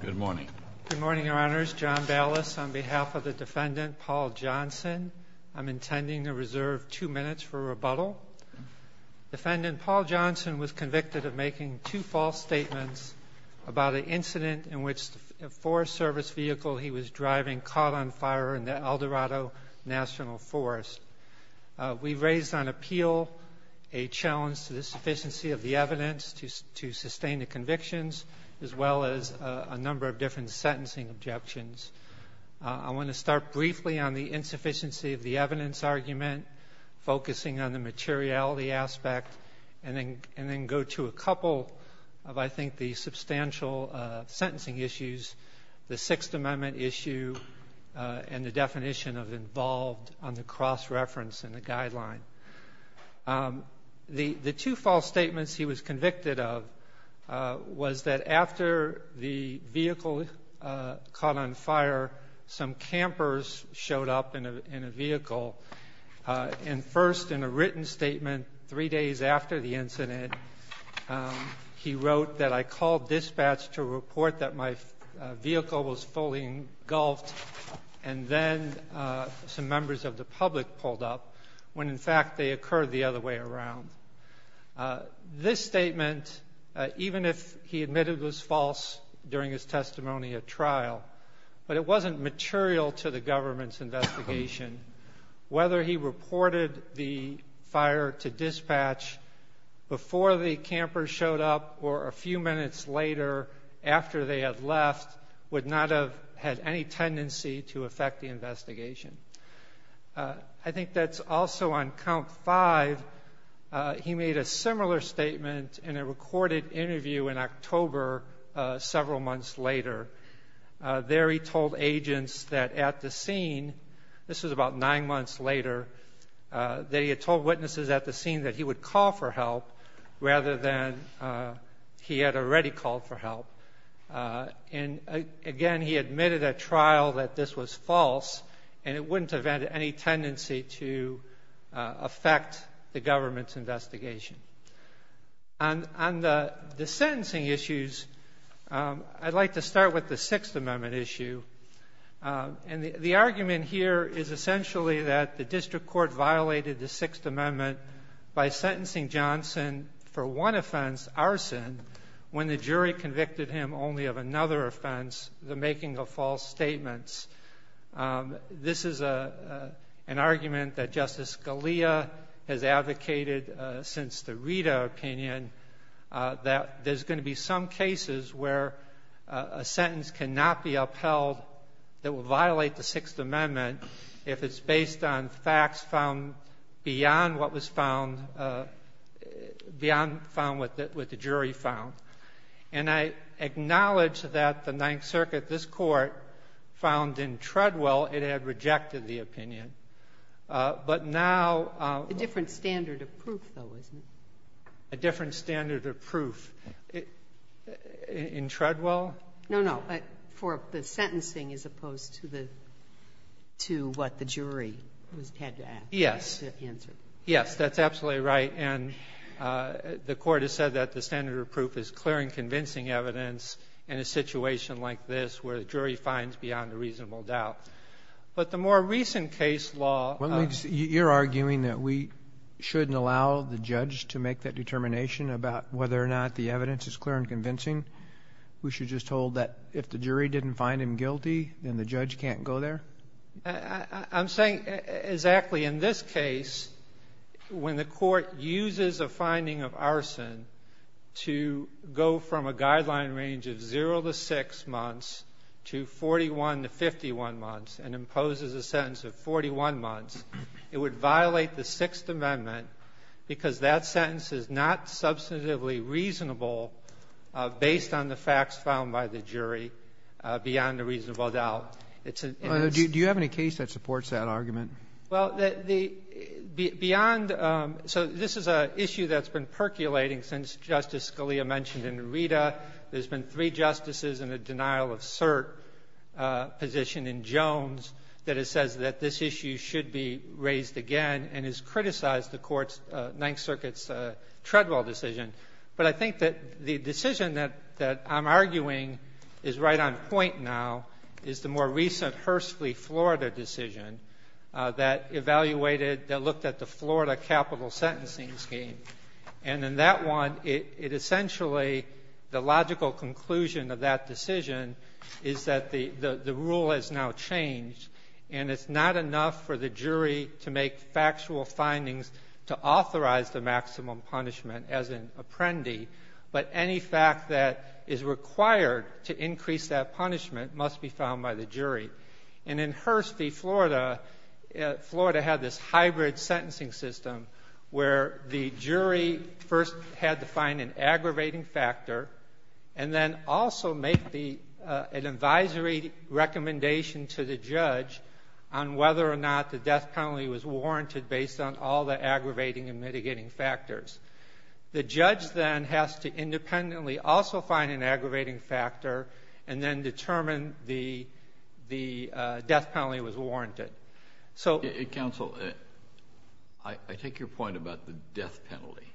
Good morning. Good morning, Your Honors. John Ballas, on behalf of the Defendant Paul Johnson, I'm intending to reserve two minutes for rebuttal. Defendant Paul Johnson was convicted of making two false statements about an incident in which a Forest Service vehicle he was driving caught on fire in the Eldorado National Forest. We've raised on appeal a challenge to the sufficiency of the evidence argument, focusing on the materiality aspect, and then go to a couple of, I think, the substantial sentencing issues, the Sixth Amendment issue, and the definition of involved on the cross-reference in the guideline. The two false statements he was convicted of was that after the vehicle caught on fire, some campers showed up in a vehicle. And first, in a written statement, three days after the incident, he wrote that, I called dispatch to report that my vehicle was fully engulfed, and then some members of the public pulled up, when, in fact, they occurred the other way around. This statement, even if he admitted it was false during his testimony at trial, but it wasn't material to the government's investigation. Whether he reported the fire to dispatch before the campers showed up or a few minutes later, after they had left, would not have had any tendency to affect his testimony. In Article V, he made a similar statement in a recorded interview in October, several months later. There he told agents that at the scene, this was about nine months later, that he had told witnesses at the scene that he would call for help, rather than he had already called for help. And, again, he investigation. On the sentencing issues, I'd like to start with the Sixth Amendment issue. And the argument here is essentially that the district court violated the Sixth Amendment by sentencing Johnson for one offense, arson, when the jury convicted him only of another offense, the making of false statements. This is an argument that Scalia has advocated since the Rita opinion, that there's going to be some cases where a sentence cannot be upheld that will violate the Sixth Amendment if it's based on facts found beyond what was found beyond what the jury found. And I acknowledge that the Ninth Circuit, this Court, found in Treadwell it had rejected the opinion. But now the different standard of proof, though, isn't it? A different standard of proof. In Treadwell? No, no. For the sentencing as opposed to the to what the jury was had to ask. Yes. To answer. Yes. That's absolutely right. And the Court has said that the standard of proof is clear and convincing evidence in a situation like this where the jury finds beyond a reasonable doubt. But the more recent case law of the court. You're arguing that we shouldn't allow the judge to make that determination about whether or not the evidence is clear and convincing? We should just hold that if the jury didn't find him guilty, then the judge can't go there? I'm saying exactly in this case, when the Court uses a finding of arson to go from a guideline range of zero to six months to 41 to 51 months and imposes a sentence of 41 months, it would violate the Sixth Amendment because that sentence is not substantively reasonable based on the facts found by the jury beyond a reasonable doubt. Do you have any case that supports that argument? Well, the beyond so this is an issue that's been percolating since Justice Scalia mentioned in Rita. There's been three justices in a denial of cert position in Jones that it says that this issue should be raised again and has criticized the Court's Ninth Circuit's Treadwell decision. But I think that the decision that I'm arguing is right on point now is the more recent Hursley, Florida decision that evaluated that looked at the Florida capital sentencing scheme. And in that one, it essentially, the logical conclusion of that decision is that the rule has now changed, and it's not enough for the jury to make factual findings to authorize the maximum punishment as an apprendee, but any fact that is required to increase that punishment must be found by the jury. And in Hursley, Florida, Florida had this hybrid sentencing system where the jury first had to find an aggravating factor and then also make the an advisory recommendation to the judge on whether or not the death penalty was warranted based on all the aggravating and mitigating factors. The judge then has to independently also find an aggravating factor and then determine the death penalty was warranted. So — Kennedy. Counsel, I take your point about the death penalty,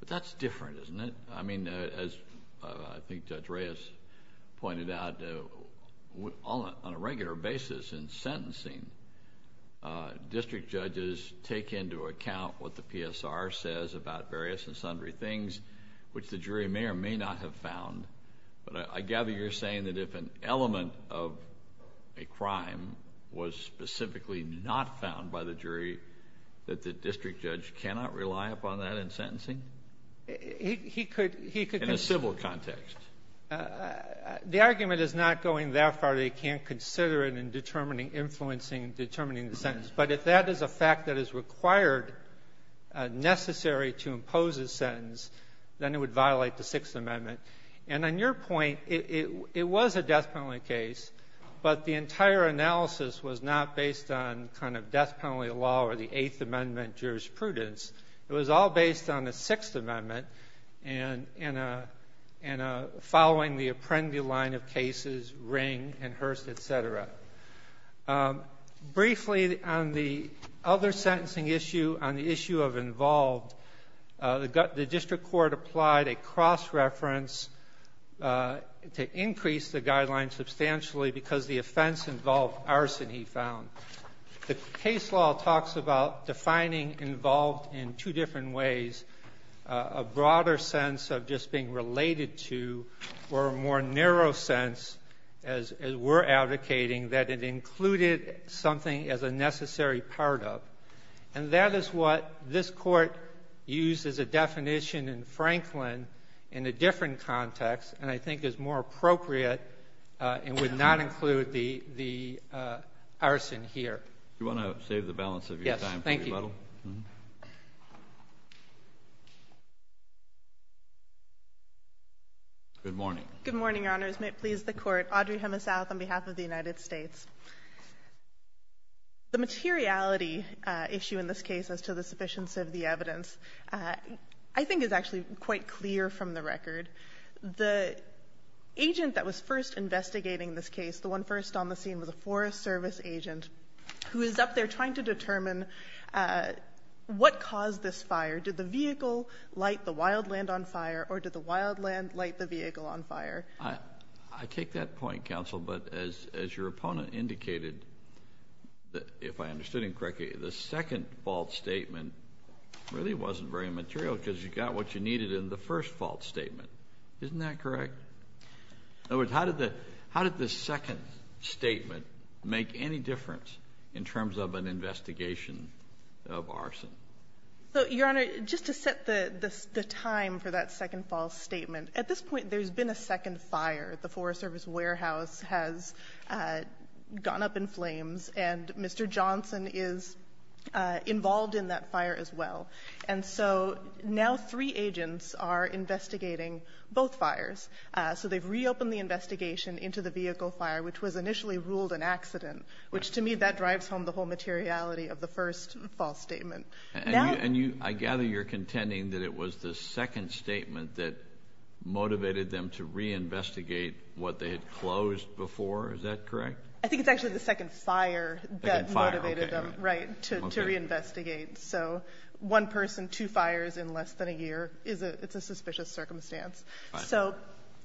but that's different, isn't it? I mean, as I think Judge Reyes pointed out, on a regular basis in sentencing, district judges take into account what the PSR says about various and sundry things, which the jury may or may not have found. But I gather you're saying that if an element of a crime was specifically not found by the jury, that the district judge cannot rely upon that in sentencing? He could — In a civil context. The argument is not going that far. They can't consider it in determining influencing, determining the sentence. But if that is a fact that is required, necessary to impose a sentence, then it would violate the Sixth Amendment. And on your point, it was a death penalty case, but the entire analysis was not based on kind of death penalty law or the Eighth Amendment jurisprudence. It was all based on the Sixth Amendment and following the Apprendi line of cases, Ring and Hurst, et cetera. Briefly, on the other sentencing issue, on the issue of involved, the district court applied a cross-reference to increase the guidelines substantially because the offense involved arson, he found. The case law talks about defining involved in two different ways, a broader sense of just being related to or a more narrow sense, as we're advocating, that it included something as a necessary part of. And that is what this Court used as a definition in Franklin in a different context and I think is more appropriate and would not include the arson here. Do you want to save the balance of your time for rebuttal? Yes. Thank you. Good morning. Good morning, Your Honors. May it please the Court. Audrey Hemesouth on behalf of the United States. The materiality issue in this case as to the sufficiency of the evidence, I think, is actually quite clear from the record. The agent that was first investigating this case, the one first on the scene, was a Forest Service agent who is up there trying to determine what caused this fire. Did the vehicle light the wild land on fire or did the wild land light the vehicle on fire? I take that point, counsel, but as your opponent indicated, if I understood him correctly, the second false statement really wasn't very material because you need it in the first false statement. Isn't that correct? In other words, how did the second statement make any difference in terms of an investigation of arson? Your Honor, just to set the time for that second false statement, at this point there's been a second fire. The Forest Service warehouse has gone up in flames and Mr. Johnson is involved in that fire as well. And so now three agents are investigating both fires. So they've reopened the investigation into the vehicle fire, which was initially ruled an accident, which to me that drives home the whole materiality of the first false statement. And you – I gather you're contending that it was the second statement that motivated them to reinvestigate what they had closed before. Is that correct? I think it's actually the second fire that motivated them. Right. To reinvestigate. So one person, two fires in less than a year is a – it's a suspicious circumstance. So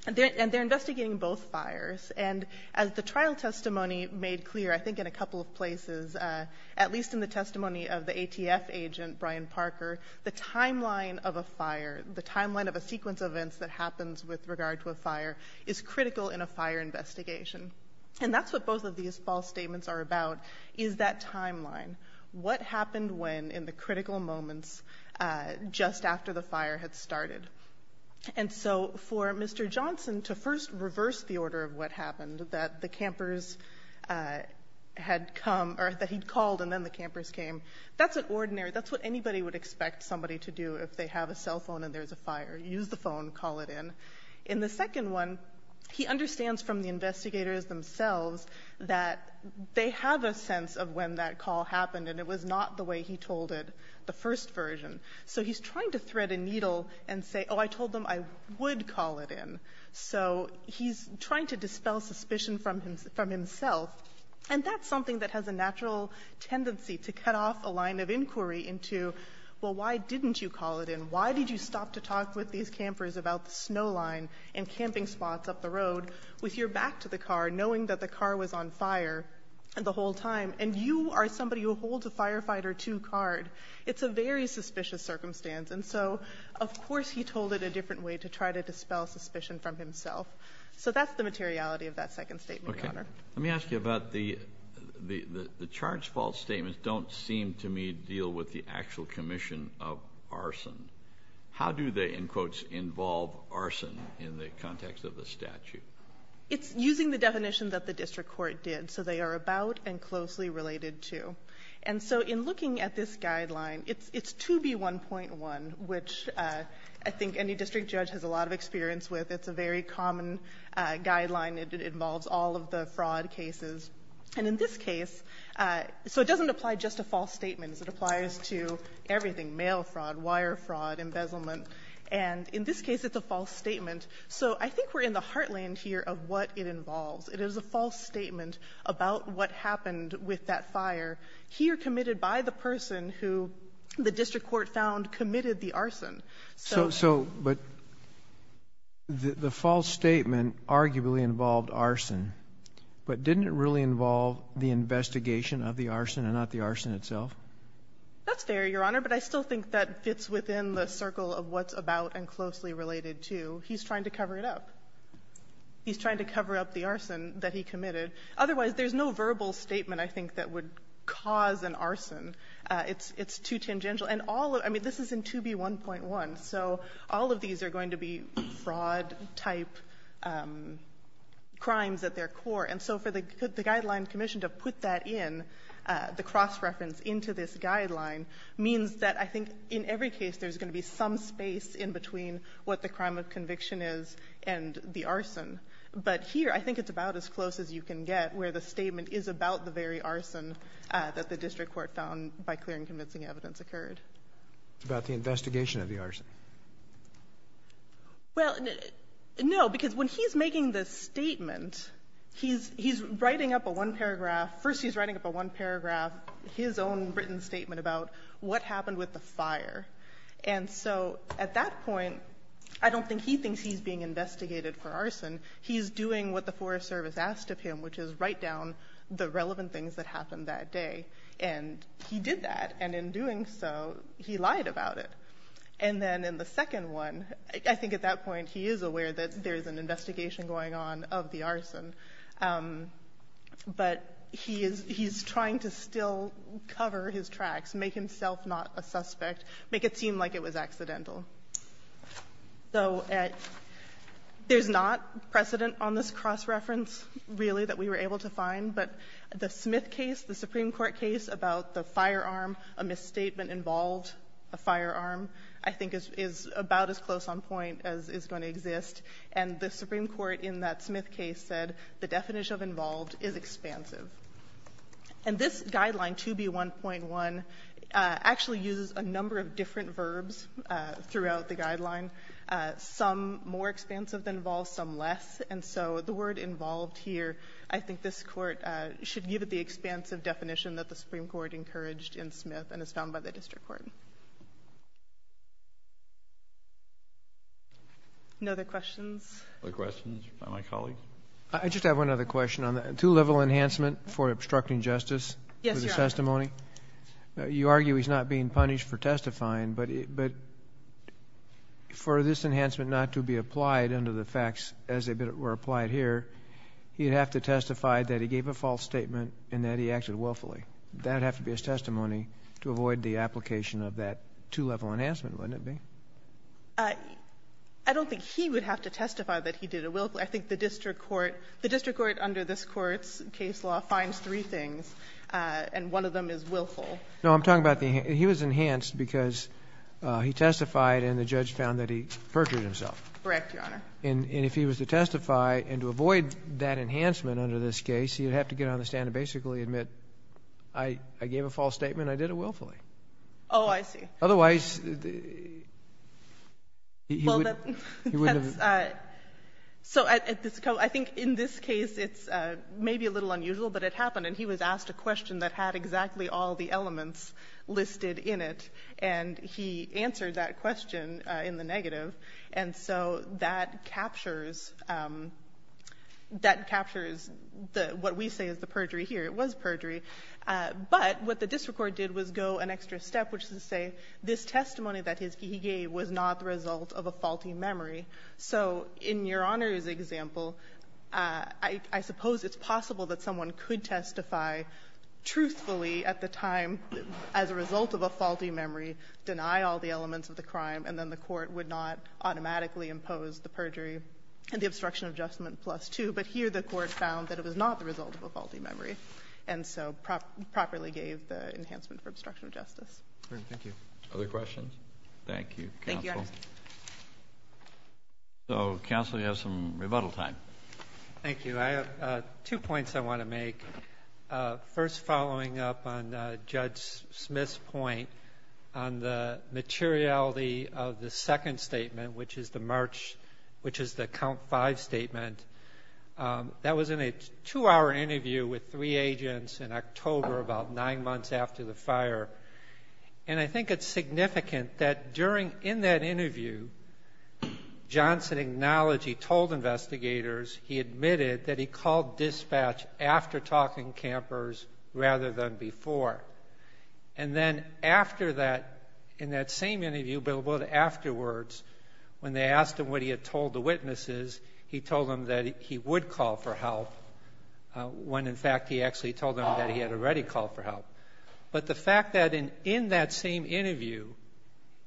they're investigating both fires. And as the trial testimony made clear, I think in a couple of places, at least in the testimony of the ATF agent, Brian Parker, the timeline of a fire, the timeline of a sequence of events that happens with regard to a fire, is critical in a fire investigation. And that's what both of these false statements are about, is that timeline. What happened when in the critical moments just after the fire had started? And so for Mr. Johnson to first reverse the order of what happened, that the campers had come – or that he'd called and then the campers came, that's an ordinary – that's what anybody would expect somebody to do if they have a cell phone and there's a fire, use the phone, call it in. In the second one, he understands from the investigators themselves that they have a sense of when that call happened and it was not the way he told it, the first version. So he's trying to thread a needle and say, oh, I told them I would call it in. So he's trying to dispel suspicion from himself. And that's something that has a natural tendency to cut off a line of inquiry into, well, why didn't you call it in? Why did you stop to talk with these campers about the snow line and camping spots up the road with your back to the car, knowing that the car was on fire the whole time, and you are somebody who holds a Firefighter II card? It's a very suspicious circumstance. And so, of course, he told it a different way to try to dispel suspicion from himself. Kennedy. Let me ask you about the charge false statements don't seem to me deal with the actual commission of arson. How do they, in quotes, involve arson in the context of the statute? It's using the definition that the district court did. So they are about and closely related to. And so in looking at this guideline, it's 2B1.1, which I think any district judge has a lot of experience with. It's a very common guideline. It involves all of the fraud cases. And in this case, so it doesn't apply just to false statements. It applies to everything, mail fraud, wire fraud, embezzlement. And in this case, it's a false statement. So I think we're in the heartland here of what it involves. It is a false statement about what happened with that fire, here committed by the So, so, but the false statement arguably involved arson, but didn't it really involve the investigation of the arson and not the arson itself? That's fair, Your Honor, but I still think that fits within the circle of what's about and closely related to. He's trying to cover it up. He's trying to cover up the arson that he committed. Otherwise, there's no verbal statement, I think, that would cause an arson. It's too tangential. And all of it, I mean, this is in 2B1.1. So all of these are going to be fraud-type crimes at their core. And so for the Guideline Commission to put that in, the cross-reference into this guideline, means that I think in every case there's going to be some space in between what the crime of conviction is and the arson. But here, I think it's about as close as you can get where the statement is about the very arson that the district court found by clear and convincing evidence occurred. It's about the investigation of the arson. Well, no, because when he's making the statement, he's writing up a one-paragraph his own written statement about what happened with the fire. And so at that point, I don't think he thinks he's being investigated for arson. He's doing what the Forest Service asked of him, which is write down the relevant things that happened that day. And he did that. And in doing so, he lied about it. And then in the second one, I think at that point, he is aware that there is an investigation going on of the arson. But he is he's trying to still cover his tracks, make himself not a suspect, make it seem like it was accidental. So at there's not, you know, precedent on this cross-reference, really, that we were able to find. But the Smith case, the Supreme Court case about the firearm, a misstatement involved a firearm, I think is about as close on point as is going to exist. And the Supreme Court in that Smith case said the definition of involved is expansive. And this Guideline 2B1.1 actually uses a number of different verbs throughout the Guideline, some more expansive than involved, some less. And so the word involved here, I think this Court should give it the expansive definition that the Supreme Court encouraged in Smith and is found by the district court. No other questions? The questions are from my colleague. I just have one other question. Two-level enhancement for obstructing justice for the testimony. Yes, Your Honor. You argue he's not being punished for testifying, but for this enhancement not to be applied under the facts as they were applied here, he'd have to testify that he gave a false statement and that he acted willfully. That would have to be his testimony to avoid the application of that two-level enhancement, wouldn't it be? I don't think he would have to testify that he did it willfully. I think the district court under this Court's case law finds three things, and one of them is willful. No, I'm talking about the he was enhanced because he testified and the judge found that he perjured himself. Correct, Your Honor. And if he was to testify and to avoid that enhancement under this case, he would have to get on the stand and basically admit, I gave a false statement, I did it willfully. Oh, I see. Otherwise, he wouldn't have. Well, that's so I think in this case it's maybe a little unusual, but it happened and he was asked a question that had exactly all the elements listed in it, and he answered that question in the negative. And so that captures, that captures what we say is the perjury here. It was perjury. But what the district court did was go an extra step, which is to say this testimony that he gave was not the result of a faulty memory. So in Your Honor's example, I suppose it's possible that someone could testify truthfully at the time as a result of a faulty memory, deny all the elements of the crime, and then the court would not automatically impose the perjury and the obstruction of judgment plus 2. But here the court found that it was not the result of a faulty memory, and so properly gave the enhancement for obstruction of justice. Other questions? Thank you, counsel. Thank you, Your Honor. So, counsel, you have some rebuttal time. Thank you. I have two points I want to make. First, following up on Judge Smith's point on the materiality of the second statement, which is the March, which is the count five statement, that was in a two-hour interview with three agents in October about nine months after the fire. And I think it's significant that during, in that interview, Johnson acknowledged he told investigators he admitted that he called dispatch after talking to campers rather than before. And then after that, in that same interview, but a little bit afterwards, when they asked him what he had told the witnesses, he told them that he would call for help when, in fact, he actually told them that he had already called for help. But the fact that in that same interview,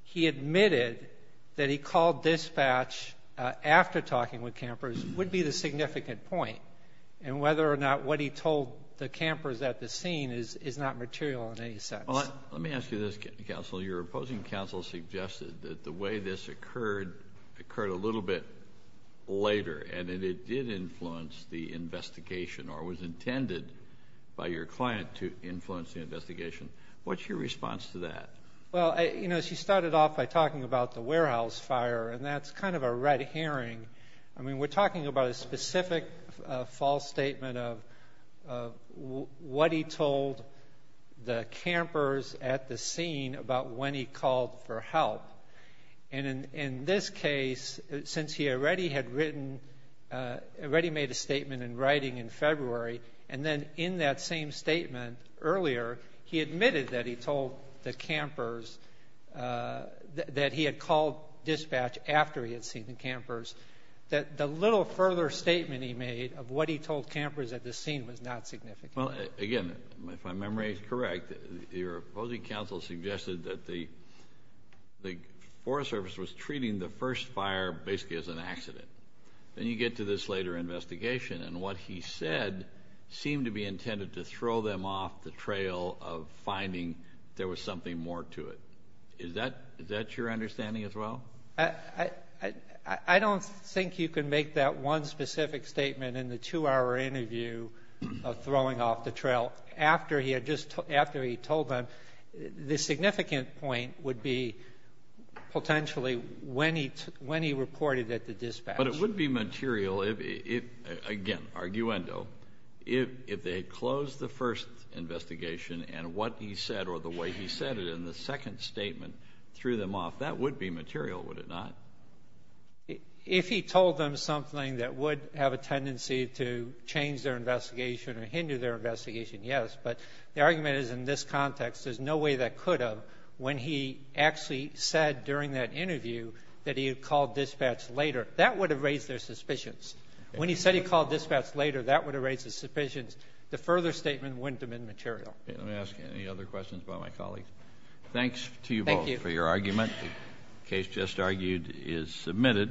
he admitted that he called dispatch after talking with campers would be the significant point, and whether or not what he told the campers at the scene is not material in any sense. Well, let me ask you this, counsel. Your opposing counsel suggested that the way this occurred occurred a little bit later, and that it did influence the investigation or was intended by your client to influence the investigation. What's your response to that? Well, you know, she started off by talking about the warehouse fire, and that's kind of a red herring. I mean, we're talking about a specific false statement of what he told the campers at the scene about when he called for help. And in this case, since he already had written, already made a statement in writing in February, and then in that same statement earlier, he admitted that he told the campers that he had called dispatch after he had seen the campers, that the little further statement he made of what he told campers at the scene was not significant. Well, again, if my memory is correct, your opposing counsel suggested that the Forest Service was treating the first fire basically as an accident. Then you get to this later investigation, and what he said seemed to be intended to throw them off the trail of finding there was something more to it. Is that your understanding as well? I don't think you can make that one specific statement in the two-hour interview of throwing off the trail. After he had just told them, the significant point would be potentially when he reported at the dispatch. But it would be material if, again, arguendo, if they had closed the first investigation and what he said or the way he said it in the second statement threw them off. That would be material, would it not? If he told them something that would have a tendency to change their investigation or hinder their investigation, yes. But the argument is in this context, there's no way that could have, when he actually said during that interview that he had called dispatch later, that would have raised their suspicions. When he said he called dispatch later, that would have raised his suspicions. The further statement wouldn't have been material. Let me ask any other questions about my colleague. Thanks to you both for your argument. Thank you. The case just argued is submitted.